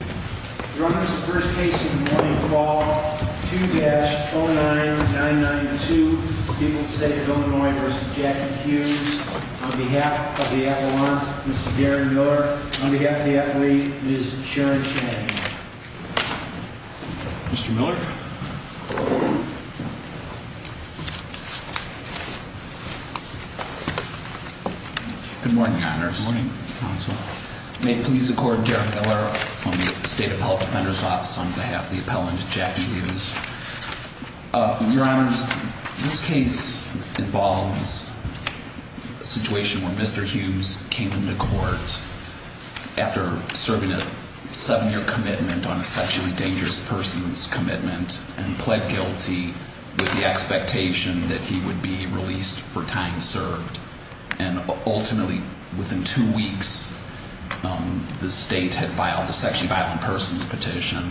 On behalf of the athlete, Ms. Sharon Shannon. Mr. Miller? Good morning, Your Honors. Good morning, Counsel. May it please the Court, Derek Miller from the State Appellate Defender's Office on behalf of the appellant, Jackie Hughes. Your Honors, this case involves a situation where Mr. Hughes came into court after serving a seven-year commitment on a sexually dangerous person's commitment and pled guilty with the expectation that he would be released for time served. And ultimately, within two weeks, the state had filed the sexually violent person's petition,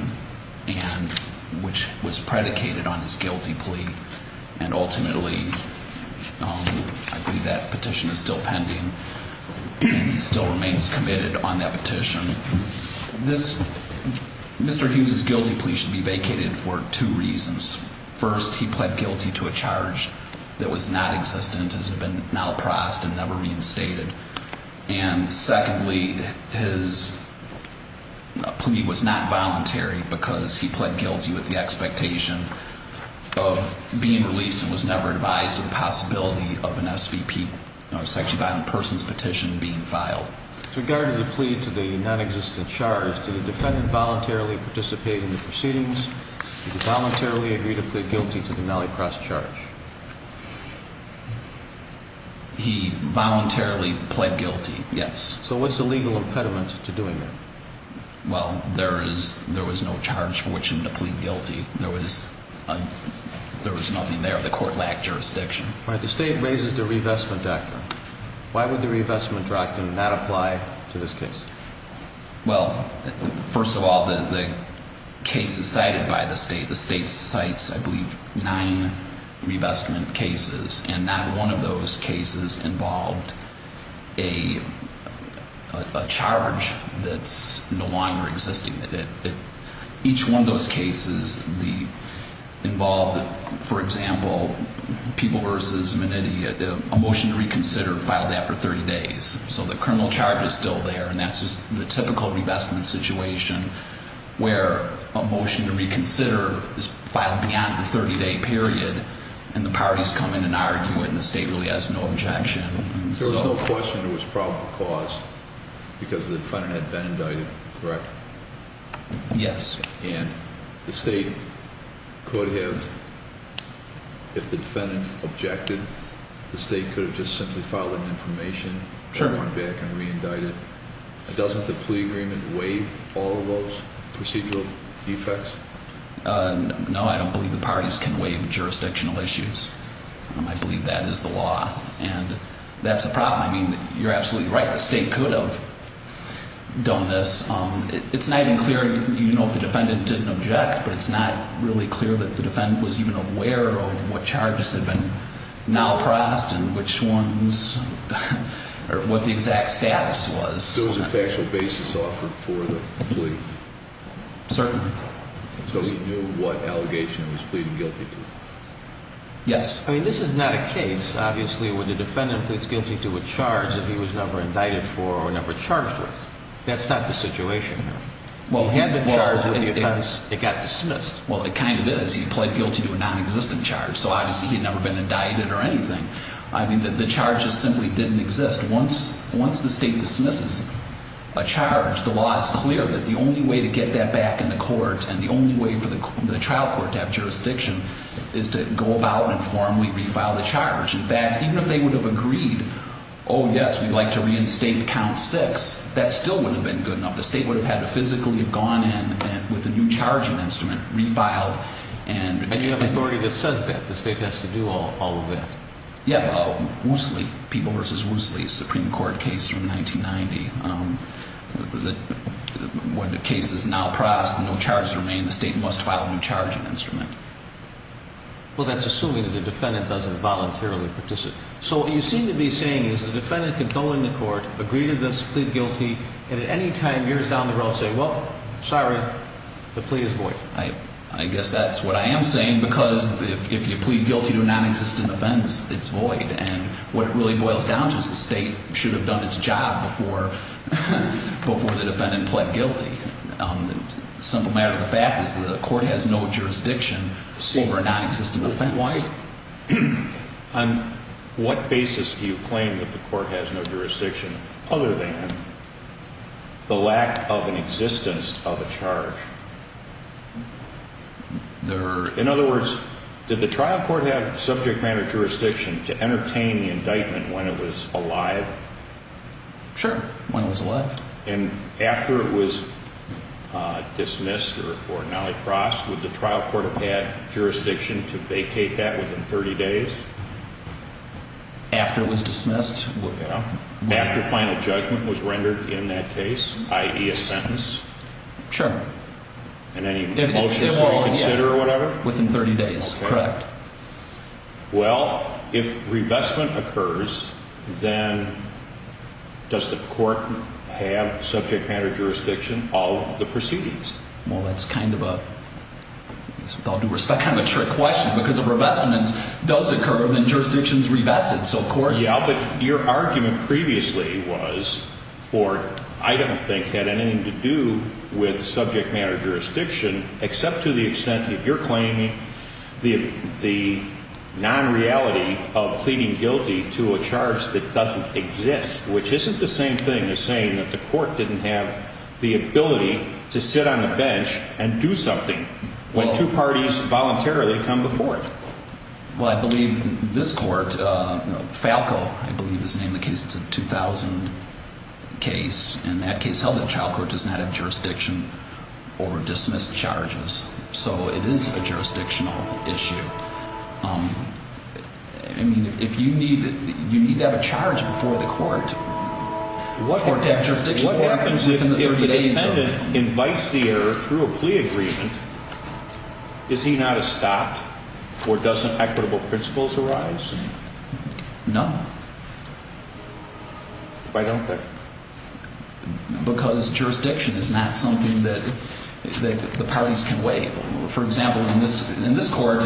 which was predicated on his guilty plea. And ultimately, I believe that petition is still pending, and he still remains committed on that petition. Mr. Hughes' guilty plea should be vacated for two reasons. First, he pled guilty to a charge that was not existent, as it had been malpraised and never reinstated. And secondly, his plea was not voluntary because he pled guilty with the expectation of being released and was never advised of the possibility of an SVP, a sexually violent person's petition, being filed. With regard to the plea to the nonexistent charge, did the defendant voluntarily participate in the proceedings? Did he voluntarily agree to plead guilty to the Malacross charge? He voluntarily pled guilty, yes. So what's the legal impediment to doing that? Well, there was no charge for which him to plead guilty. There was nothing there. The court lacked jurisdiction. All right, the state raises the revestment doctrine. Why would the revestment doctrine not apply to this case? Well, first of all, the case is cited by the state. The state cites, I believe, nine revestment cases, and not one of those cases involved a charge that's no longer existing. Each one of those cases involved, for example, People v. Menitti, a motion to reconsider filed after 30 days. So the criminal charge is still there, and that's just the typical revestment situation where a motion to reconsider is filed beyond the 30-day period, and the parties come in and argue it, and the state really has no objection. There was no question it was probable cause because the defendant had been indicted, correct? Yes. And the state could have, if the defendant objected, the state could have just simply filed an information, gone back and re-indicted. Doesn't the plea agreement waive all of those procedural defects? No, I don't believe the parties can waive jurisdictional issues. I believe that is the law, and that's a problem. I mean, you're absolutely right. The state could have done this. It's not even clear, you know, if the defendant didn't object, but it's not really clear that the defendant was even aware of what charges had been now passed and which ones, or what the exact status was. So there was a factual basis offered for the plea? Certainly. So he knew what allegation he was pleading guilty to? Yes. I mean, this is not a case, obviously, where the defendant pleads guilty to a charge that he was never indicted for or never charged with. That's not the situation here. He had been charged with the offense. It got dismissed. Well, it kind of is. He pled guilty to a nonexistent charge, so obviously he had never been indicted or anything. I mean, the charges simply didn't exist. Once the state dismisses a charge, the law is clear that the only way to get that back in the court and the only way for the trial court to have jurisdiction is to go about and formally refile the charge. In fact, even if they would have agreed, oh, yes, we'd like to reinstate count six, that still wouldn't have been good enough. The state would have had to physically have gone in with a new charging instrument, refiled. And you have authority that says that. The state has to do all of that. Yeah, Woosley, People v. Woosley, Supreme Court case from 1990, when the case is now processed, no charges remain. The state must file a new charging instrument. Well, that's assuming that the defendant doesn't voluntarily participate. So what you seem to be saying is the defendant can go into court, agree to this, plead guilty, and at any time years down the road say, well, sorry, the plea is void. I guess that's what I am saying, because if you plead guilty to a nonexistent offense, it's void. And what it really boils down to is the state should have done its job before the defendant pled guilty. The simple matter of the fact is the court has no jurisdiction over a nonexistent offense. On what basis do you claim that the court has no jurisdiction other than the lack of an existence of a charge? In other words, did the trial court have subject matter jurisdiction to entertain the indictment when it was alive? Sure, when it was alive. And after it was dismissed or now crossed, would the trial court have had jurisdiction to vacate that within 30 days? After it was dismissed? After final judgment was rendered in that case, i.e. a sentence? Sure. And any motions to reconsider or whatever? Within 30 days, correct. Well, if revestment occurs, then does the court have subject matter jurisdiction of the proceedings? Well, that's kind of a, with all due respect, kind of a trick question. Because if revestment does occur, then jurisdiction is revested. So of course... Yeah, but your argument previously was for, I don't think it had anything to do with subject matter jurisdiction, except to the extent that you're claiming the non-reality of pleading guilty to a charge that doesn't exist. Which isn't the same thing as saying that the court didn't have the ability to sit on a bench and do something. When two parties voluntarily come before it. Well, I believe this court, Falco, I believe is the name of the case, it's a 2000 case. And that case held that child court does not have jurisdiction or dismiss charges. So it is a jurisdictional issue. I mean, if you need, you need to have a charge before the court. What happens if the defendant invites the error through a plea agreement? Is he not estopped? Or doesn't equitable principles arise? No. Why don't they? Because jurisdiction is not something that the parties can waive. For example, in this court,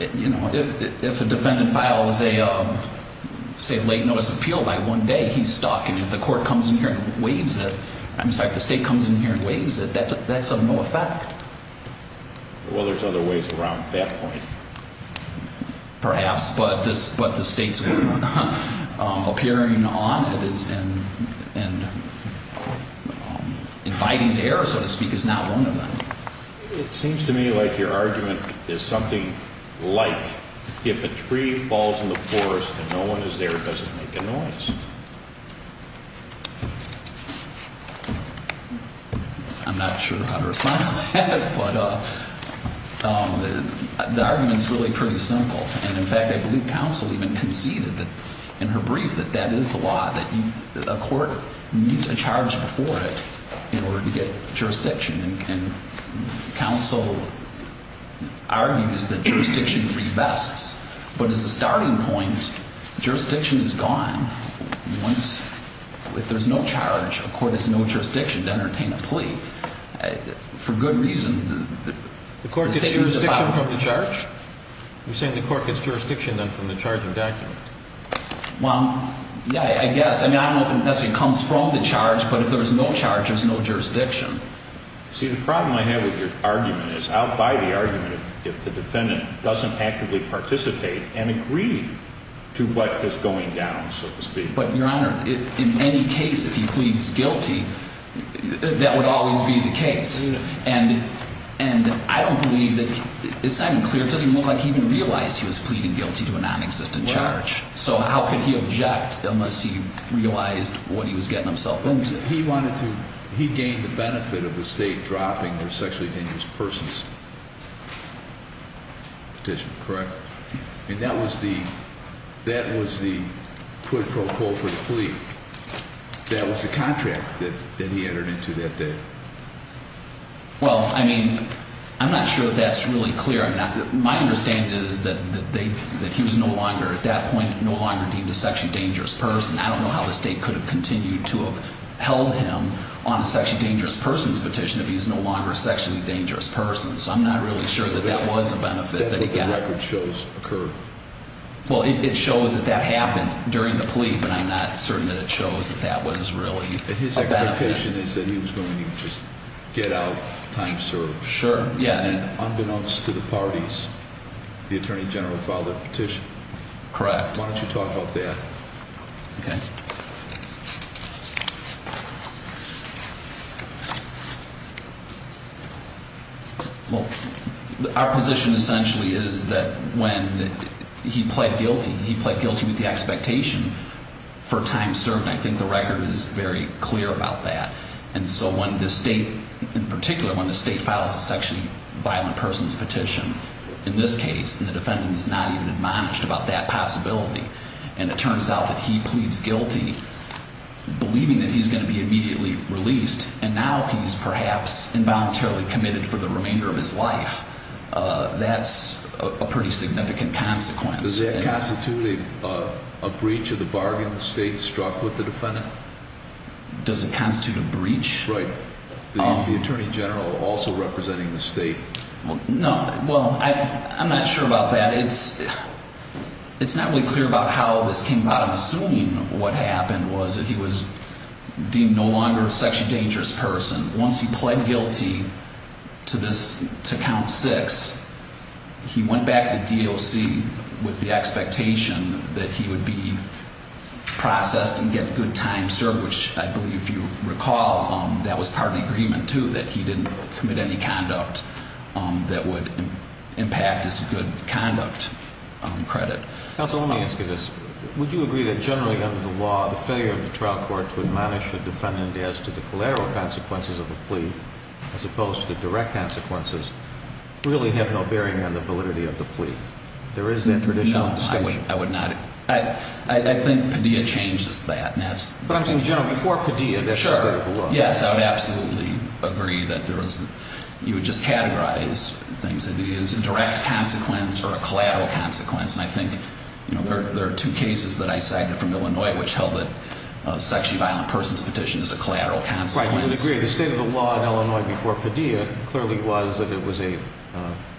if a defendant files a, say, late notice appeal by one day, he's stuck. And if the court comes in here and waives it, I'm sorry, if the state comes in here and waives it, that's of no effect. Well, there's other ways around that point. Perhaps. But the states appearing on it and inviting the error, so to speak, is not one of them. It seems to me like your argument is something like if a tree falls in the forest and no one is there, does it make a noise? I'm not sure how to respond to that, but the argument is really pretty simple. And, in fact, I believe counsel even conceded in her brief that that is the law, that a court needs a charge before it in order to get jurisdiction. And counsel argues that jurisdiction revests. But as a starting point, jurisdiction is gone once, if there's no charge, a court has no jurisdiction to entertain a plea. For good reason. The court gets jurisdiction from the charge? You're saying the court gets jurisdiction then from the charge of document? Well, yeah, I guess. I mean, I don't know if it necessarily comes from the charge, but if there's no charge, there's no jurisdiction. See, the problem I have with your argument is I'll buy the argument if the defendant doesn't actively participate and agree to what is going down, so to speak. But, Your Honor, in any case, if he pleads guilty, that would always be the case. And I don't believe that, it's not even clear, it doesn't look like he even realized he was pleading guilty to a nonexistent charge. So how could he object unless he realized what he was getting himself into? He wanted to, he gained the benefit of the state dropping their sexually dangerous persons petition, correct? And that was the, that was the quid pro quo for the plea. That was the contract that he entered into that day. Well, I mean, I'm not sure that's really clear. My understanding is that he was no longer, at that point, no longer deemed a sexually dangerous person. I don't know how the state could have continued to have held him on a sexually dangerous persons petition if he's no longer a sexually dangerous person. So I'm not really sure that that was a benefit that he got. That record shows occurred. Well, it shows that that happened during the plea, but I'm not certain that it shows that that was really a benefit. His expectation is that he was going to just get out, time served. Sure, yeah. And unbeknownst to the parties, the Attorney General filed the petition. Correct. Why don't you talk about that? Okay. Well, our position essentially is that when he pled guilty, he pled guilty with the expectation for time served. And I think the record is very clear about that. And so when the state, in particular, when the state files a sexually violent persons petition, in this case, and the defendant is not even admonished about that possibility, and it turns out that he pleads guilty, believing that he's going to be immediately released, and now he's perhaps involuntarily committed for the remainder of his life, that's a pretty significant consequence. Does that constitute a breach of the bargain the state struck with the defendant? Does it constitute a breach? Right. The Attorney General also representing the state. No. Well, I'm not sure about that. It's not really clear about how this came about. I'm assuming what happened was that he was deemed no longer a sexually dangerous person. Once he pled guilty to this, to count six, he went back to the DOC with the expectation that he would be processed and get good time served, which I believe, if you recall, that was part of the agreement, too, that he didn't commit any conduct that would impact his good conduct credit. Counsel, let me ask you this. Would you agree that generally under the law, the failure of the trial court to admonish the defendant as to the collateral consequences of the plea, as opposed to the direct consequences, really have no bearing on the validity of the plea? There is that traditional distinction. No, I would not. I think Padilla changes that. But I'm saying, generally, before Padilla, that's the state of the law. Yes, I would absolutely agree that you would just categorize things as a direct consequence or a collateral consequence. And I think there are two cases that I cited from Illinois which held that a sexually violent person's petition is a collateral consequence. Right. I would agree. The state of the law in Illinois before Padilla clearly was that it was an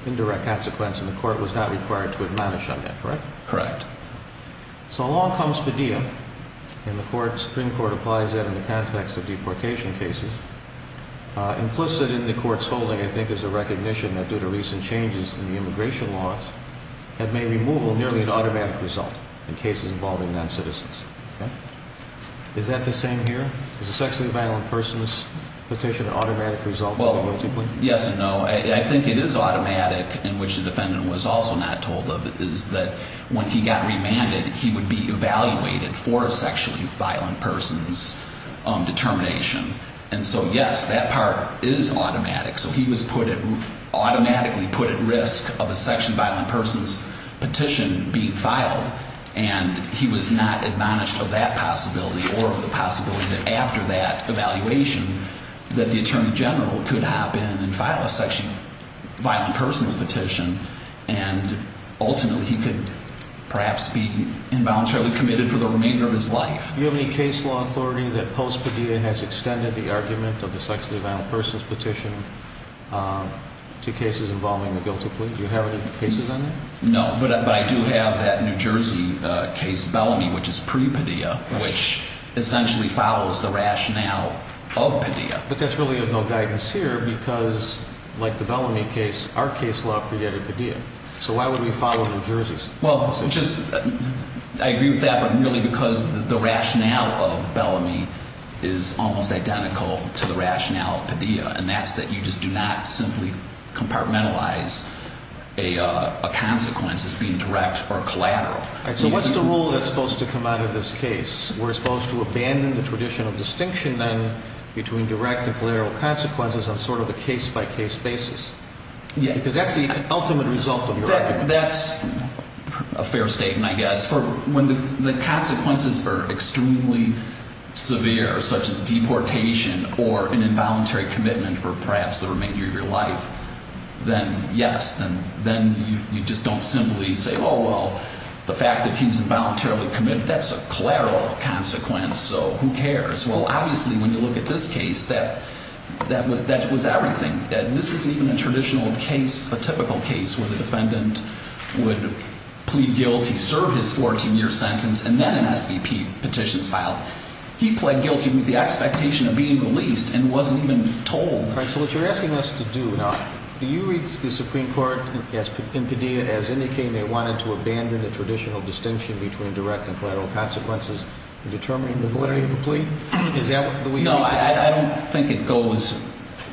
indirect consequence, and the court was not required to admonish on that. Correct? Correct. So along comes Padilla, and the Supreme Court applies that in the context of deportation cases. Implicit in the court's holding, I think, is a recognition that due to recent changes in the immigration laws, that may removal nearly an automatic result in cases involving noncitizens. Okay? Is that the same here? Is a sexually violent person's petition an automatic result? Well, yes and no. I think it is automatic, in which the defendant was also not told of. It is that when he got remanded, he would be evaluated for a sexually violent person's determination. And so, yes, that part is automatic. So he was automatically put at risk of a sexually violent person's petition being filed, and he was not admonished of that possibility or of the possibility that after that evaluation, that the attorney general could hop in and file a sexually violent person's petition and ultimately he could perhaps be involuntarily committed for the remainder of his life. Do you have any case law authority that post Padilla has extended the argument of the sexually violent person's petition to cases involving the guilty plea? Do you have any cases on that? No, but I do have that New Jersey case, Bellamy, which is pre-Padilla, which essentially follows the rationale of Padilla. But that's really of no guidance here because, like the Bellamy case, our case law predated Padilla. So why would we follow New Jersey's? Well, I agree with that, but really because the rationale of Bellamy is almost identical to the rationale of Padilla, and that's that you just do not simply compartmentalize a consequence as being direct or collateral. So what's the rule that's supposed to come out of this case? We're supposed to abandon the tradition of distinction, then, between direct and collateral consequences on sort of a case-by-case basis. Yeah. Because that's the ultimate result of your argument. That's a fair statement, I guess. When the consequences are extremely severe, such as deportation or an involuntary commitment for perhaps the remainder of your life, then yes, then you just don't simply say, oh, well, the fact that he was involuntarily committed, that's a collateral consequence, so who cares? Well, obviously, when you look at this case, that was everything. This isn't even a traditional case, a typical case, where the defendant would plead guilty, serve his 14-year sentence, and then an SVP petition is filed. He pled guilty with the expectation of being released and wasn't even told. All right, so what you're asking us to do now, do you read the Supreme Court in Padilla as indicating they wanted to abandon the traditional distinction between direct and collateral consequences in determining the validity of the plea? No, I don't think it goes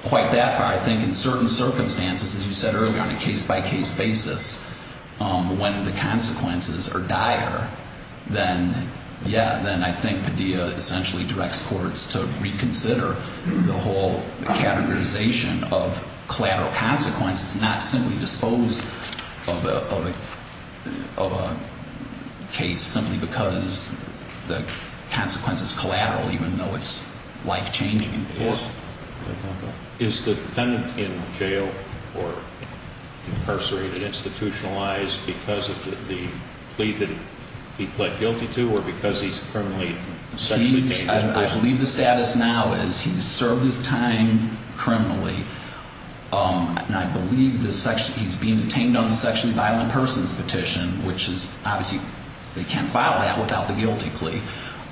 quite that far. I think in certain circumstances, as you said earlier, on a case-by-case basis, when the consequences are dire, then yeah, then I think Padilla essentially directs courts to reconsider the whole categorization of collateral consequences, not simply dispose of a case simply because the consequence is collateral, even though it's life-changing and important. Is the defendant in jail or incarcerated, institutionalized because of the plea that he pled guilty to or because he's currently sexually engaged? I believe the status now is he's served his time criminally, and I believe he's being detained on the sexually violent persons petition, which is obviously, they can't file that without the guilty plea.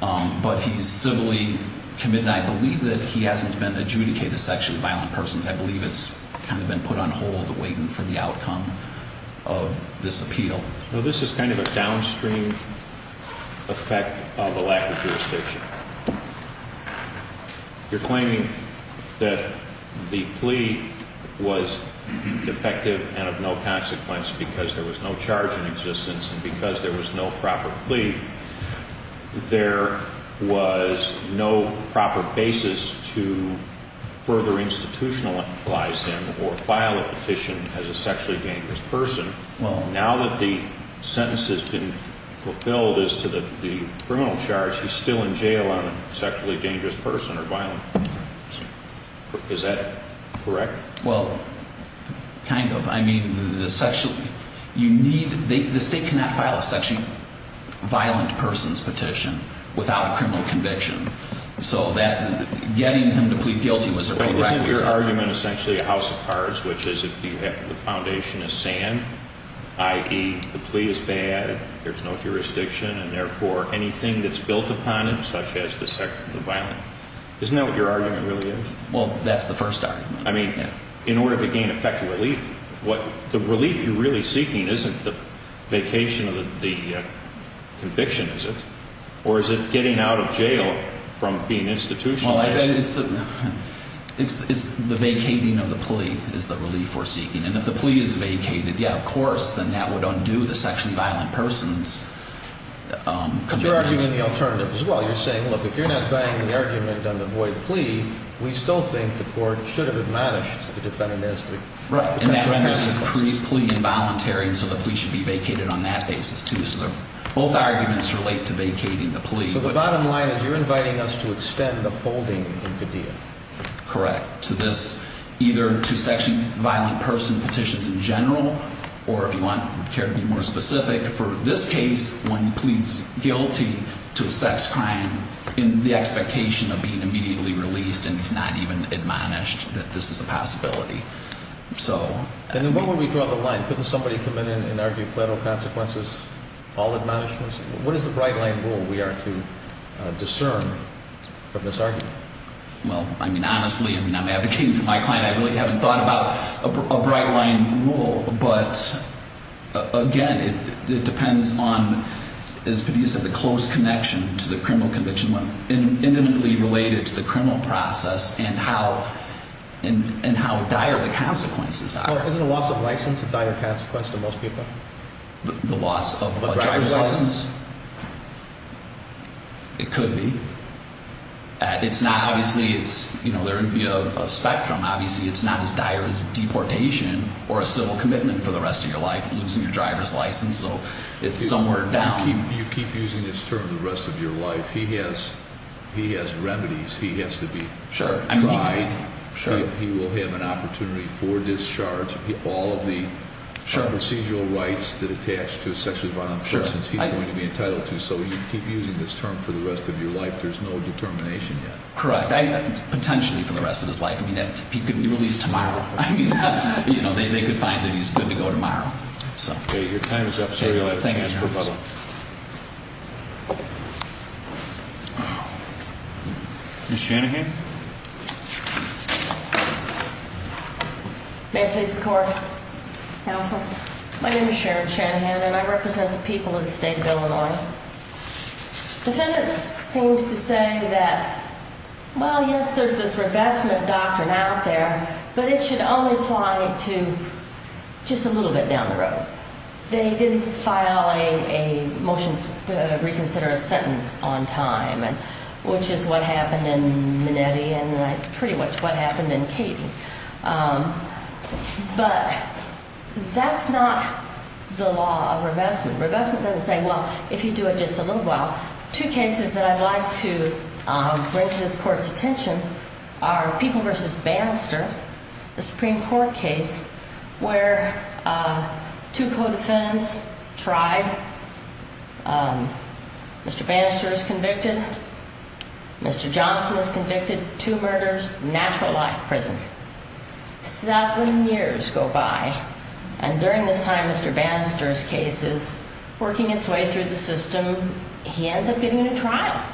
But he's civilly committed, and I believe that he hasn't been adjudicated sexually violent persons. I believe it's kind of been put on hold, waiting for the outcome of this appeal. This is kind of a downstream effect of a lack of jurisdiction. You're claiming that the plea was defective and of no consequence because there was no charge in existence and because there was no proper plea, there was no proper basis to further institutionalize him or file a petition as a sexually dangerous person. Now that the sentence has been fulfilled as to the criminal charge, he's still in jail on a sexually dangerous person or violent person. Is that correct? Well, kind of. I mean, the state cannot file a sexually violent persons petition without a criminal conviction. So getting him to plead guilty was a prerequisite. Isn't your argument essentially a house of cards, which is if the foundation is sand, i.e., the plea is bad, there's no jurisdiction, and therefore anything that's built upon it, such as the sexual violence, isn't that what your argument really is? Well, that's the first argument. I mean, in order to gain effective relief, the relief you're really seeking isn't the vacation of the conviction, is it? Or is it getting out of jail from being institutionalized? Well, it's the vacating of the plea is the relief we're seeking. And if the plea is vacated, yeah, of course, then that would undo the sexually violent person's commitment. But you're arguing the alternative as well. You're saying, look, if you're not buying the argument on the void plea, we still think the court should have admonished the defendant as to the potential consequences. Right, and that renders his plea involuntary, and so the plea should be vacated on that basis too. So both arguments relate to vacating the plea. So the bottom line is you're inviting us to extend the holding in Padilla. Correct, to this, either to sexually violent person petitions in general, or if you care to be more specific, for this case, one pleads guilty to a sex crime in the expectation of being immediately released, and he's not even admonished that this is a possibility. And then why won't we draw the line? Couldn't somebody come in and argue federal consequences, all admonishments? What is the bright-line rule we are to discern from this argument? Well, I mean, honestly, I mean, I'm advocating for my client. I really haven't thought about a bright-line rule. But, again, it depends on, as Padilla said, the close connection to the criminal conviction when intimately related to the criminal process and how dire the consequences are. Well, isn't a loss of license a dire consequence to most people? The loss of a driver's license? It could be. It's not, obviously, it's, you know, there would be a spectrum. Obviously, it's not as dire as deportation or a civil commitment for the rest of your life, losing your driver's license, so it's somewhere down. You keep using this term the rest of your life. He has remedies. He has to be tried. He will have an opportunity for discharge. All of the procedural rights that attach to sexually violent persons, he's going to be entitled to. So you keep using this term for the rest of your life. There's no determination yet. Correct. Potentially for the rest of his life. I mean, he could be released tomorrow. I mean, you know, they could find that he's good to go tomorrow. Okay. Your time is up, sir. You'll have a chance, Padilla. Ms. Shanahan? May it please the Court? Counsel? My name is Sharon Shanahan, and I represent the people of the state of Illinois. The defendant seems to say that, well, yes, there's this revestment doctrine out there, but it should only apply to just a little bit down the road. They didn't file a motion to reconsider a sentence on time, which is what happened in Minetti and pretty much what happened in Cady. But that's not the law of revestment. Revestment doesn't say, well, if you do it just a little while. Two cases that I'd like to bring to this Court's attention are People v. Bannister, the Supreme Court case where two co-defendants tried. Mr. Bannister is convicted. Mr. Johnson is convicted. Two murders. Natural life prison. Seven years go by, and during this time Mr. Bannister's case is working its way through the system. He ends up getting a trial.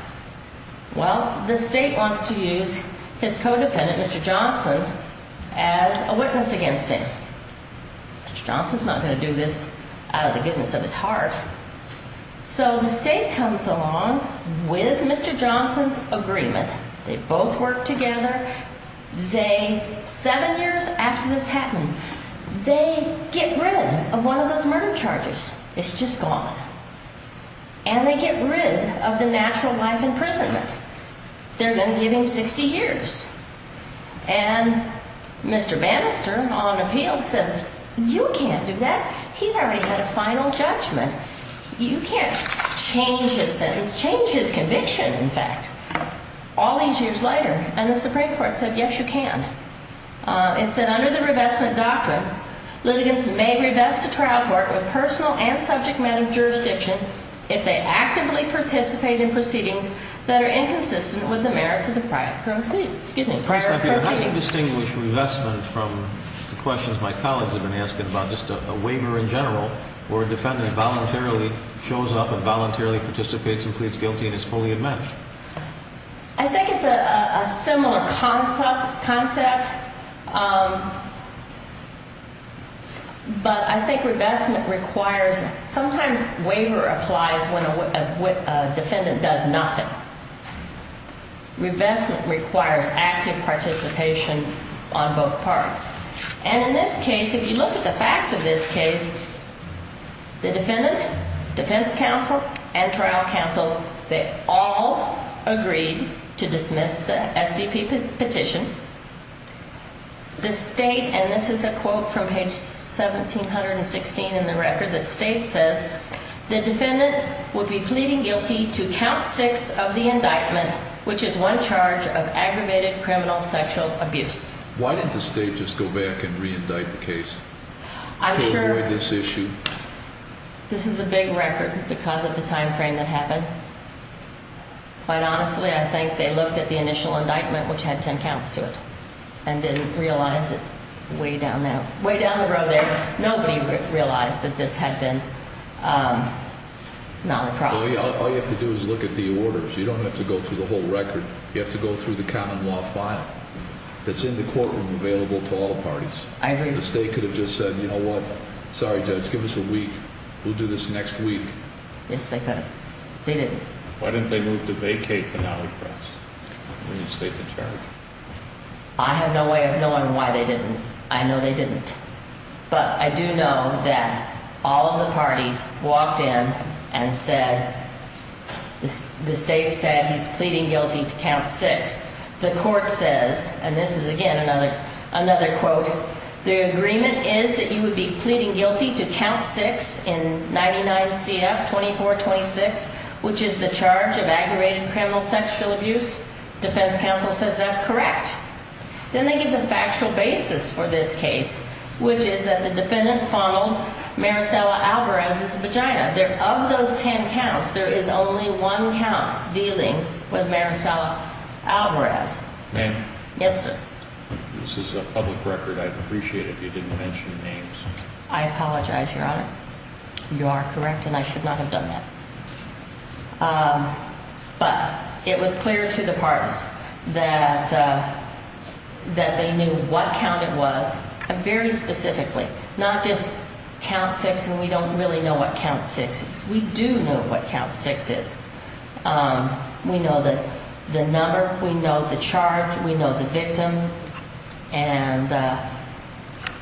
Well, the state wants to use his co-defendant, Mr. Johnson, as a witness against him. Mr. Johnson's not going to do this out of the goodness of his heart. So the state comes along with Mr. Johnson's agreement. They both work together. Seven years after this happened, they get rid of one of those murder charges. It's just gone. And they get rid of the natural life imprisonment. They're going to give him 60 years. And Mr. Bannister, on appeal, says, you can't do that. He's already had a final judgment. You can't change his sentence, change his conviction, in fact. All these years later, and the Supreme Court said, yes, you can. It said, under the revestment doctrine, litigants may revest a trial court with personal and subject matter jurisdiction if they actively participate in proceedings that are inconsistent with the merits of the prior proceedings. How do you distinguish revestment from the questions my colleagues have been asking about just a waiver in general where a defendant voluntarily shows up and voluntarily participates and pleads guilty and is fully admitted? I think it's a similar concept, but I think revestment requires, sometimes waiver applies when a defendant does nothing. Revestment requires active participation on both parts. And in this case, if you look at the facts of this case, the defendant, defense counsel, and trial counsel, they all agreed to dismiss the SDP petition. The state, and this is a quote from page 1716 in the record, the state says, the defendant would be pleading guilty to count six of the indictment, which is one charge of aggravated criminal sexual abuse. Why didn't the state just go back and reindict the case to avoid this issue? This is a big record because of the time frame that happened. Quite honestly, I think they looked at the initial indictment, which had ten counts to it, and didn't realize that way down the road there, nobody realized that this had been not crossed. All you have to do is look at the orders. You don't have to go through the whole record. You have to go through the common law file that's in the courtroom available to all parties. I agree. The state could have just said, you know what? Sorry, judge, give us a week. We'll do this next week. Yes, they could have. They didn't. Why didn't they move to vacate the non-repress? We need the state to charge. I have no way of knowing why they didn't. I know they didn't. But I do know that all of the parties walked in and said, the state said he's pleading guilty to count six. The court says, and this is again another quote, the agreement is that you would be pleading guilty to count six in 99 CF 2426, which is the charge of aggravated criminal sexual abuse. Defense counsel says that's correct. Then they give the factual basis for this case, which is that the defendant fondled Maricela Alvarez's vagina. Of those ten counts, there is only one count dealing with Maricela Alvarez. Ma'am? Yes, sir. This is a public record. I'd appreciate it if you didn't mention names. I apologize, Your Honor. You are correct, and I should not have done that. But it was clear to the parties that they knew what count it was very specifically, not just count six and we don't really know what count six is. We do know what count six is. We know the number. We know the charge. We know the victim. And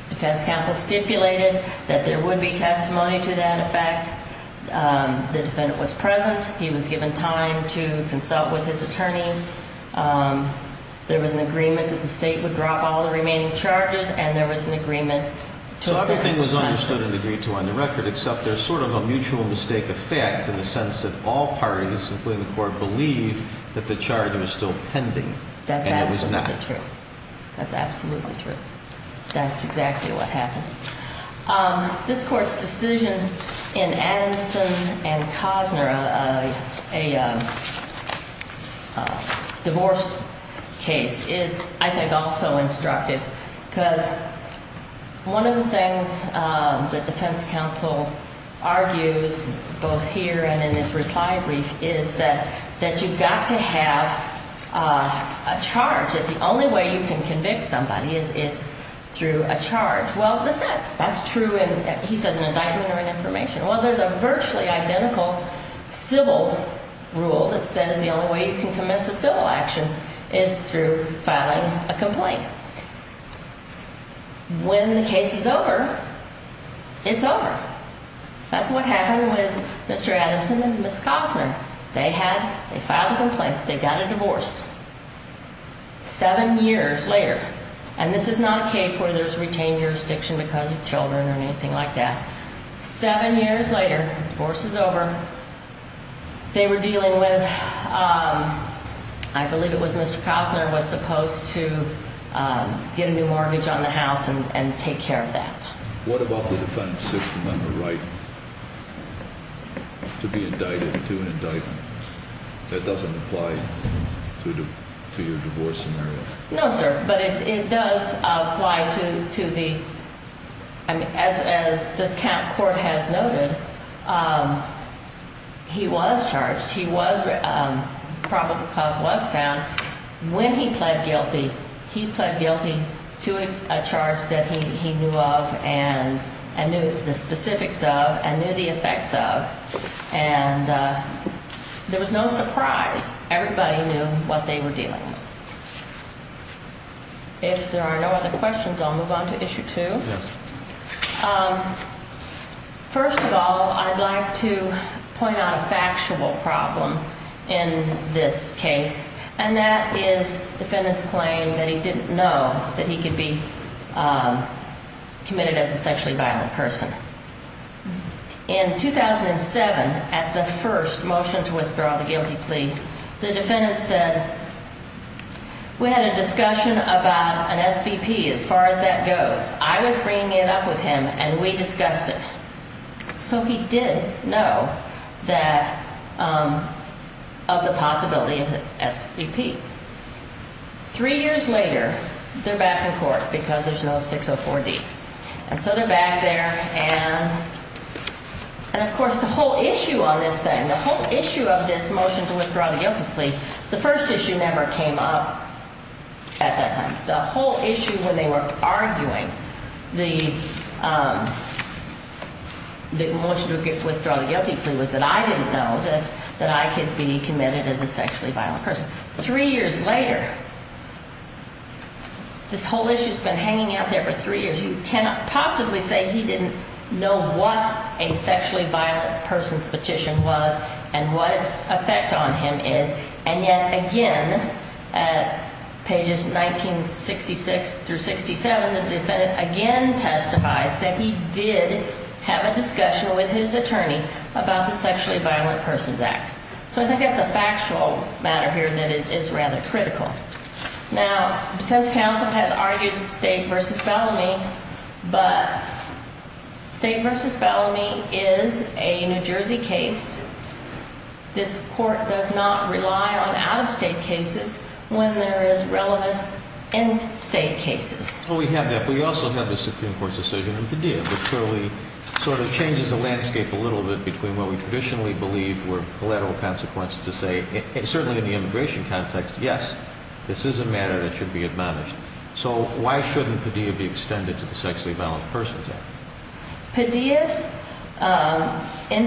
defense counsel stipulated that there would be testimony to that effect. The defendant was present. He was given time to consult with his attorney. There was an agreement that the state would drop all the remaining charges, and there was an agreement to a sentence. So everything was understood and agreed to on the record, except there's sort of a mutual mistake effect in the sense that all parties, including the court, believe that the charge was still pending and it was not. That's absolutely true. That's absolutely true. That's exactly what happened. This Court's decision in Adamson and Cosner, a divorce case, is, I think, also instructive because one of the things that defense counsel argues, both here and in this reply brief, is that you've got to have a charge. The only way you can convict somebody is through a charge. Well, that's it. That's true, he says, in indictment or in information. Well, there's a virtually identical civil rule that says the only way you can commence a civil action is through filing a complaint. When the case is over, it's over. That's what happened with Mr. Adamson and Ms. Cosner. They filed a complaint. They got a divorce seven years later. And this is not a case where there's retained jurisdiction because of children or anything like that. Seven years later, divorce is over. They were dealing with, I believe it was Mr. Cosner was supposed to get a new mortgage on the house and take care of that. What about the defendant's sixth amendment right to be indicted to an indictment that doesn't apply to your divorce scenario? No, sir. But it does apply to the, as this count court has noted, he was charged. He was probable cause was found. When he pled guilty, he pled guilty to a charge that he knew of and knew the specifics of and knew the effects of. And there was no surprise. Everybody knew what they were dealing with. If there are no other questions, I'll move on to issue two. First of all, I'd like to point out a factual problem in this case. And that is defendant's claim that he didn't know that he could be committed as a sexually violent person. In 2007, at the first motion to withdraw the guilty plea, the defendant said we had a discussion about an SBP as far as that goes. I was bringing it up with him and we discussed it. So he did know that of the possibility of an SBP. Three years later, they're back in court because there's no 604D. And so they're back there and, of course, the whole issue on this thing, the whole issue of this motion to withdraw the guilty plea, the first issue never came up at that time. The whole issue when they were arguing the motion to withdraw the guilty plea was that I didn't know that I could be committed as a sexually violent person. Three years later, this whole issue has been hanging out there for three years. You cannot possibly say he didn't know what a sexually violent person's petition was and what its effect on him is. And yet again, at pages 1966 through 67, the defendant again testifies that he did have a discussion with his attorney about the Sexually Violent Persons Act. So I think that's a factual matter here that is rather critical. Now, defense counsel has argued State v. Bellamy, but State v. Bellamy is a New Jersey case. This court does not rely on out-of-state cases when there is relevant in-state cases. Well, we have that. We also have the Supreme Court's decision in Padilla that clearly sort of changes the landscape a little bit between what we traditionally believe were collateral consequences to say, and certainly in the immigration context, yes, this is a matter that should be admonished. So why shouldn't Padilla be extended to the Sexually Violent Persons Act? In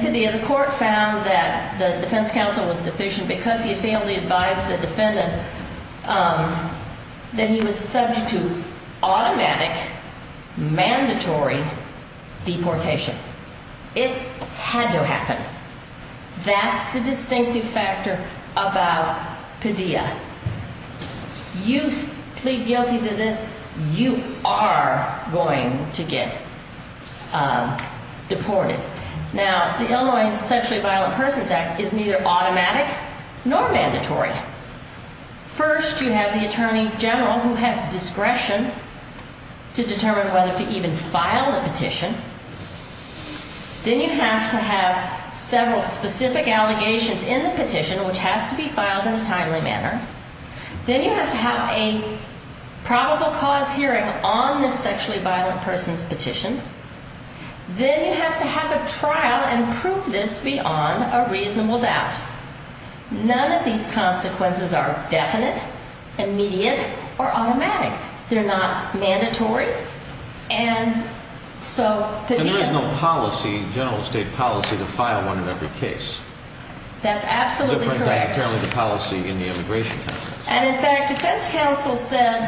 Padilla, the court found that the defense counsel was deficient because he had failed to advise the defendant that he was subject to automatic, mandatory deportation. It had to happen. That's the distinctive factor about Padilla. You plead guilty to this, you are going to get deported. Now, the Illinois Sexually Violent Persons Act is neither automatic nor mandatory. First, you have the attorney general who has discretion to determine whether to even file the petition. Then you have to have several specific allegations in the petition, which has to be filed in a timely manner. Then you have to have a probable cause hearing on this sexually violent person's petition. Then you have to have a trial and prove this beyond a reasonable doubt. None of these consequences are definite, immediate, or automatic. They're not mandatory. And there is no policy, general state policy, to file one in every case. That's absolutely correct. It's different than the policy in the immigration counsel. And, in fact, defense counsel said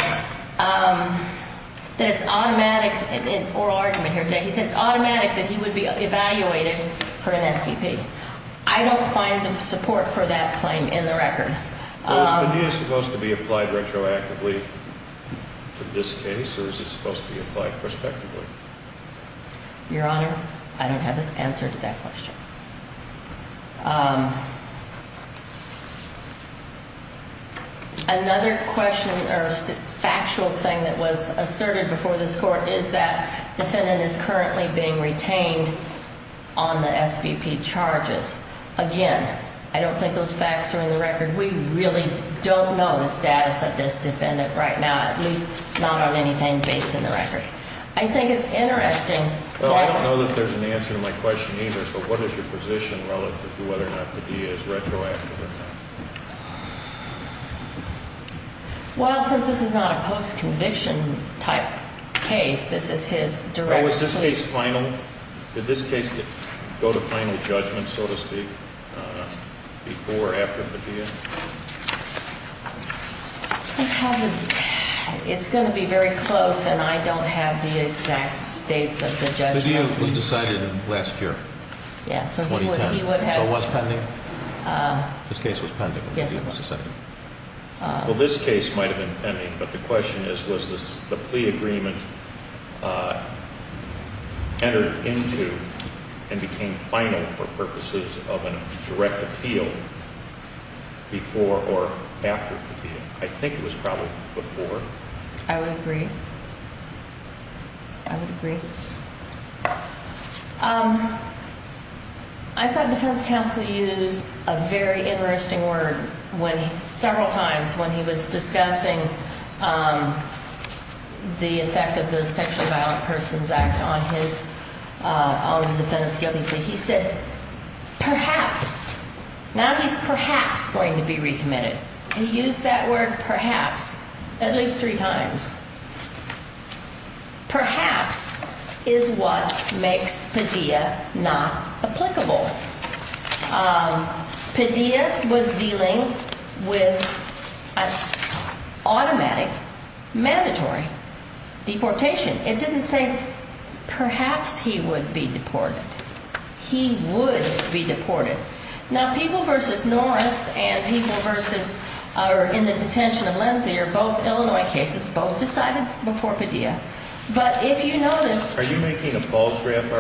that it's automatic, in an oral argument here today, he said it's automatic that he would be evaluated for an SVP. I don't find the support for that claim in the record. Is the new supposed to be applied retroactively to this case, or is it supposed to be applied prospectively? Your Honor, I don't have the answer to that question. Another question or factual thing that was asserted before this Court is that defendant is currently being retained on the SVP charges. Again, I don't think those facts are in the record. We really don't know the status of this defendant right now, at least not on anything based in the record. I think it's interesting. Well, I don't know that there's an answer to my question either. But what is your position relative to whether or not Padilla is retroactive or not? Well, since this is not a post-conviction type case, this is his direction. Was this case final? Did this case go to final judgment, so to speak, before or after Padilla? It's going to be very close, and I don't have the exact dates of the judgment. Padilla was decided last year, 2010. So it was pending? Yes, it was. Well, this case might have been pending, but the question is, was the plea agreement entered into and became final for purposes of a direct appeal before or after Padilla? I think it was probably before. I would agree. I would agree. I thought defense counsel used a very interesting word several times when he was discussing the effect of the Sexually Violent Persons Act on the defendant's guilty plea. He said, perhaps. Now he's perhaps going to be recommitted. He used that word perhaps at least three times. Perhaps is what makes Padilla not applicable. Padilla was dealing with an automatic, mandatory deportation. It didn't say, perhaps he would be deported. He would be deported. Now, people versus Norris and people in the detention of Lindsay are both Illinois cases, both decided before Padilla. Are you making a Paul's graph argument?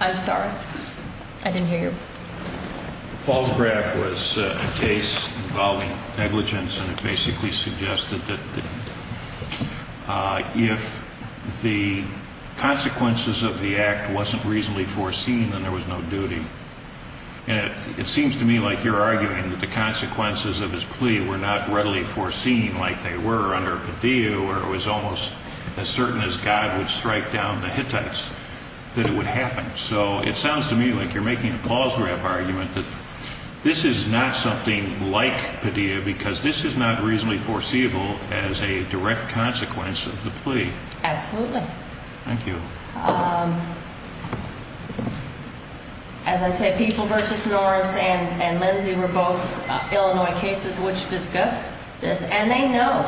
I'm sorry. I didn't hear you. Paul's graph was a case involving negligence, and it basically suggested that if the consequences of the act wasn't reasonably foreseen, then there was no duty. And it seems to me like you're arguing that the consequences of his plea were not readily foreseen like they were under Padilla, where it was almost as certain as God would strike down the Hittites that it would happen. So it sounds to me like you're making a Paul's graph argument that this is not something like Padilla because this is not reasonably foreseeable as a direct consequence of the plea. Absolutely. Thank you. As I said, people versus Norris and Lindsay were both Illinois cases which discussed this. And they know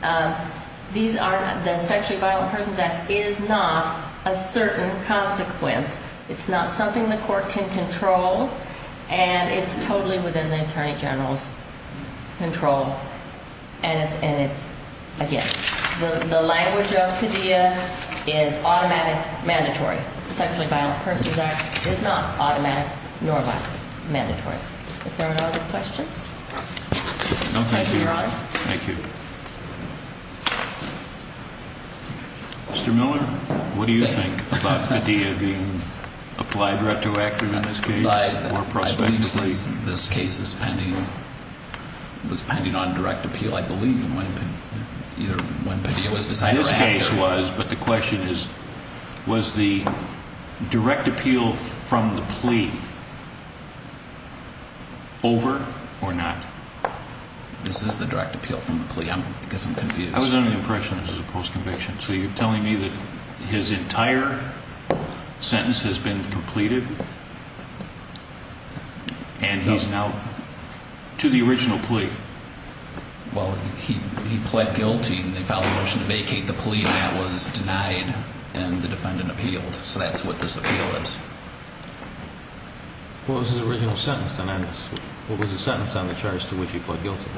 that the Sexually Violent Persons Act is not a certain consequence. It's not something the court can control, and it's totally within the attorney general's control. And it's, again, the language of Padilla is automatic, mandatory. The Sexually Violent Persons Act is not automatic nor mandatory. If there are no other questions, I'll turn it around. Thank you. Mr. Miller, what do you think about Padilla being applied retroactively in this case or prospectively? This case is pending. It was pending on direct appeal, I believe. Either when Padilla was decided or after. This case was, but the question is, was the direct appeal from the plea over or not? This is the direct appeal from the plea. I guess I'm confused. I was under the impression this was a post-conviction. So you're telling me that his entire sentence has been completed and he's now to the original plea? Well, he pled guilty, and they filed a motion to vacate the plea, and that was denied, and the defendant appealed. So that's what this appeal is. What was his original sentence, then? What was the sentence on the charge to which he pled guilty?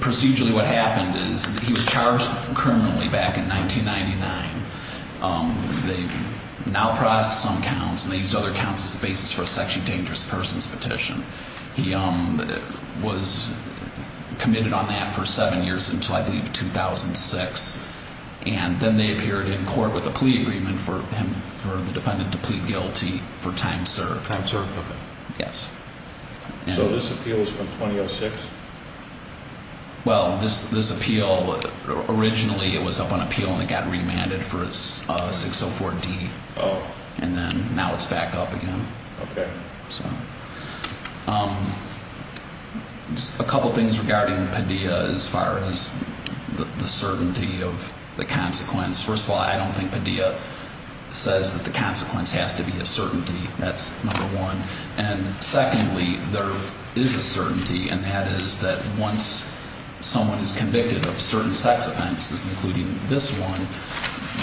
Procedurally, what happened is he was charged criminally back in 1999. They now process some counts, and they used other counts as a basis for a sexually dangerous person's petition. He was committed on that for seven years until, I believe, 2006. And then they appeared in court with a plea agreement for the defendant to plead guilty for time served. Time served? Okay. Yes. So this appeal is from 2006? Well, this appeal, originally it was up on appeal, and it got remanded for 604D. Oh. And then now it's back up again. Okay. So a couple things regarding Padilla as far as the certainty of the consequence. First of all, I don't think Padilla says that the consequence has to be a certainty. That's number one. And secondly, there is a certainty, and that is that once someone is convicted of certain sex offenses, including this one,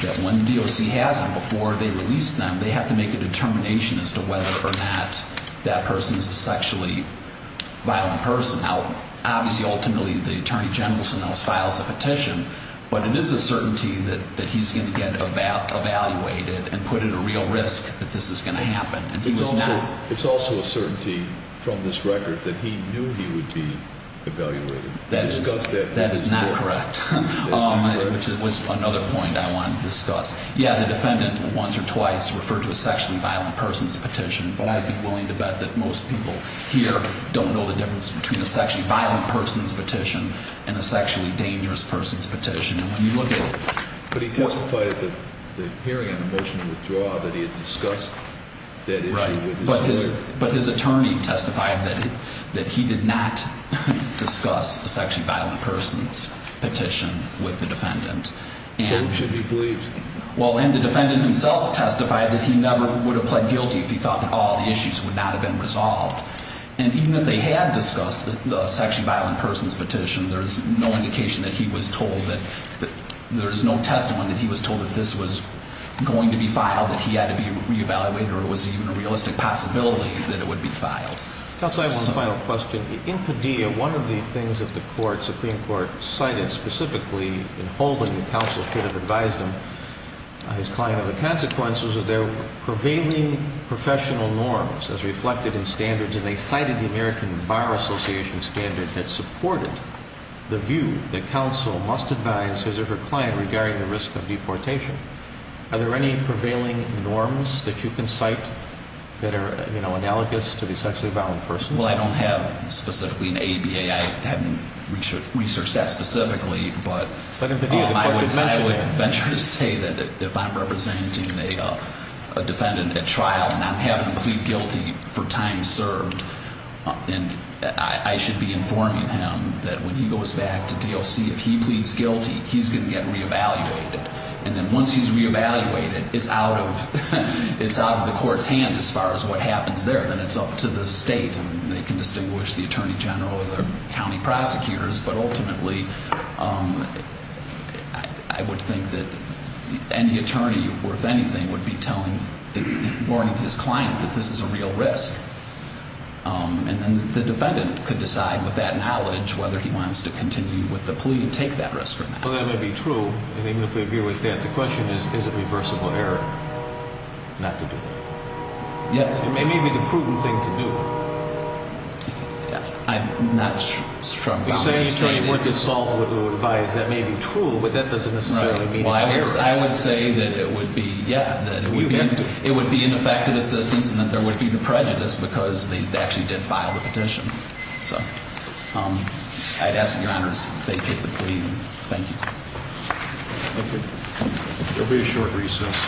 that when the DOC has them before they release them, they have to make a determination as to whether or not that person is a sexually violent person. Now, obviously, ultimately, the attorney general files a petition, but it is a certainty that he's going to get evaluated and put at a real risk that this is going to happen. It's also a certainty from this record that he knew he would be evaluated. That is not correct, which was another point I wanted to discuss. Yeah, the defendant once or twice referred to a sexually violent person's petition, but I'd be willing to bet that most people here don't know the difference between a sexually violent person's petition and a sexually dangerous person's petition. But he testified at the hearing on the motion to withdraw that he had discussed that issue with his lawyer. Right, but his attorney testified that he did not discuss a sexually violent person's petition with the defendant. And the defendant himself testified that he never would have pled guilty if he thought that all the issues would not have been resolved. And even if they had discussed the sexually violent person's petition, there is no indication that he was told that, there is no testimony that he was told that this was going to be filed, that he had to be reevaluated, or it was even a realistic possibility that it would be filed. Counsel, I have one final question. In Padilla, one of the things that the Supreme Court cited specifically in holding the counsel should have advised him, his client, of the consequences of their prevailing professional norms as reflected in standards, and they cited the American Bar Association standard that supported the view that counsel must advise his or her client regarding the risk of deportation. Are there any prevailing norms that you can cite that are, you know, analogous to the sexually violent person's? Well, I don't have specifically an ABA. I haven't researched that specifically. But I would say that if I'm representing a defendant at trial and I'm having him plead guilty for time served, I should be informing him that when he goes back to DOC, if he pleads guilty, he's going to get reevaluated. And then once he's reevaluated, it's out of the court's hand as far as what happens there. Then it's up to the state, and they can distinguish the attorney general or the county prosecutors. But ultimately, I would think that any attorney, if anything, would be warning his client that this is a real risk. And then the defendant could decide with that knowledge whether he wants to continue with the plea and take that risk or not. Well, that may be true. And even if we agree with that, the question is, is it reversible error not to do it? Yes. It may be the prudent thing to do. I'm not sure about that. Well, if the attorney were to solve what we would advise, that may be true, but that doesn't necessarily mean it's error. Well, I would say that it would be, yeah, that it would be ineffective assistance and that there would be the prejudice because they actually did file the petition. So I'd ask that Your Honors vacate the plea. Thank you. Thank you. There will be a short recess.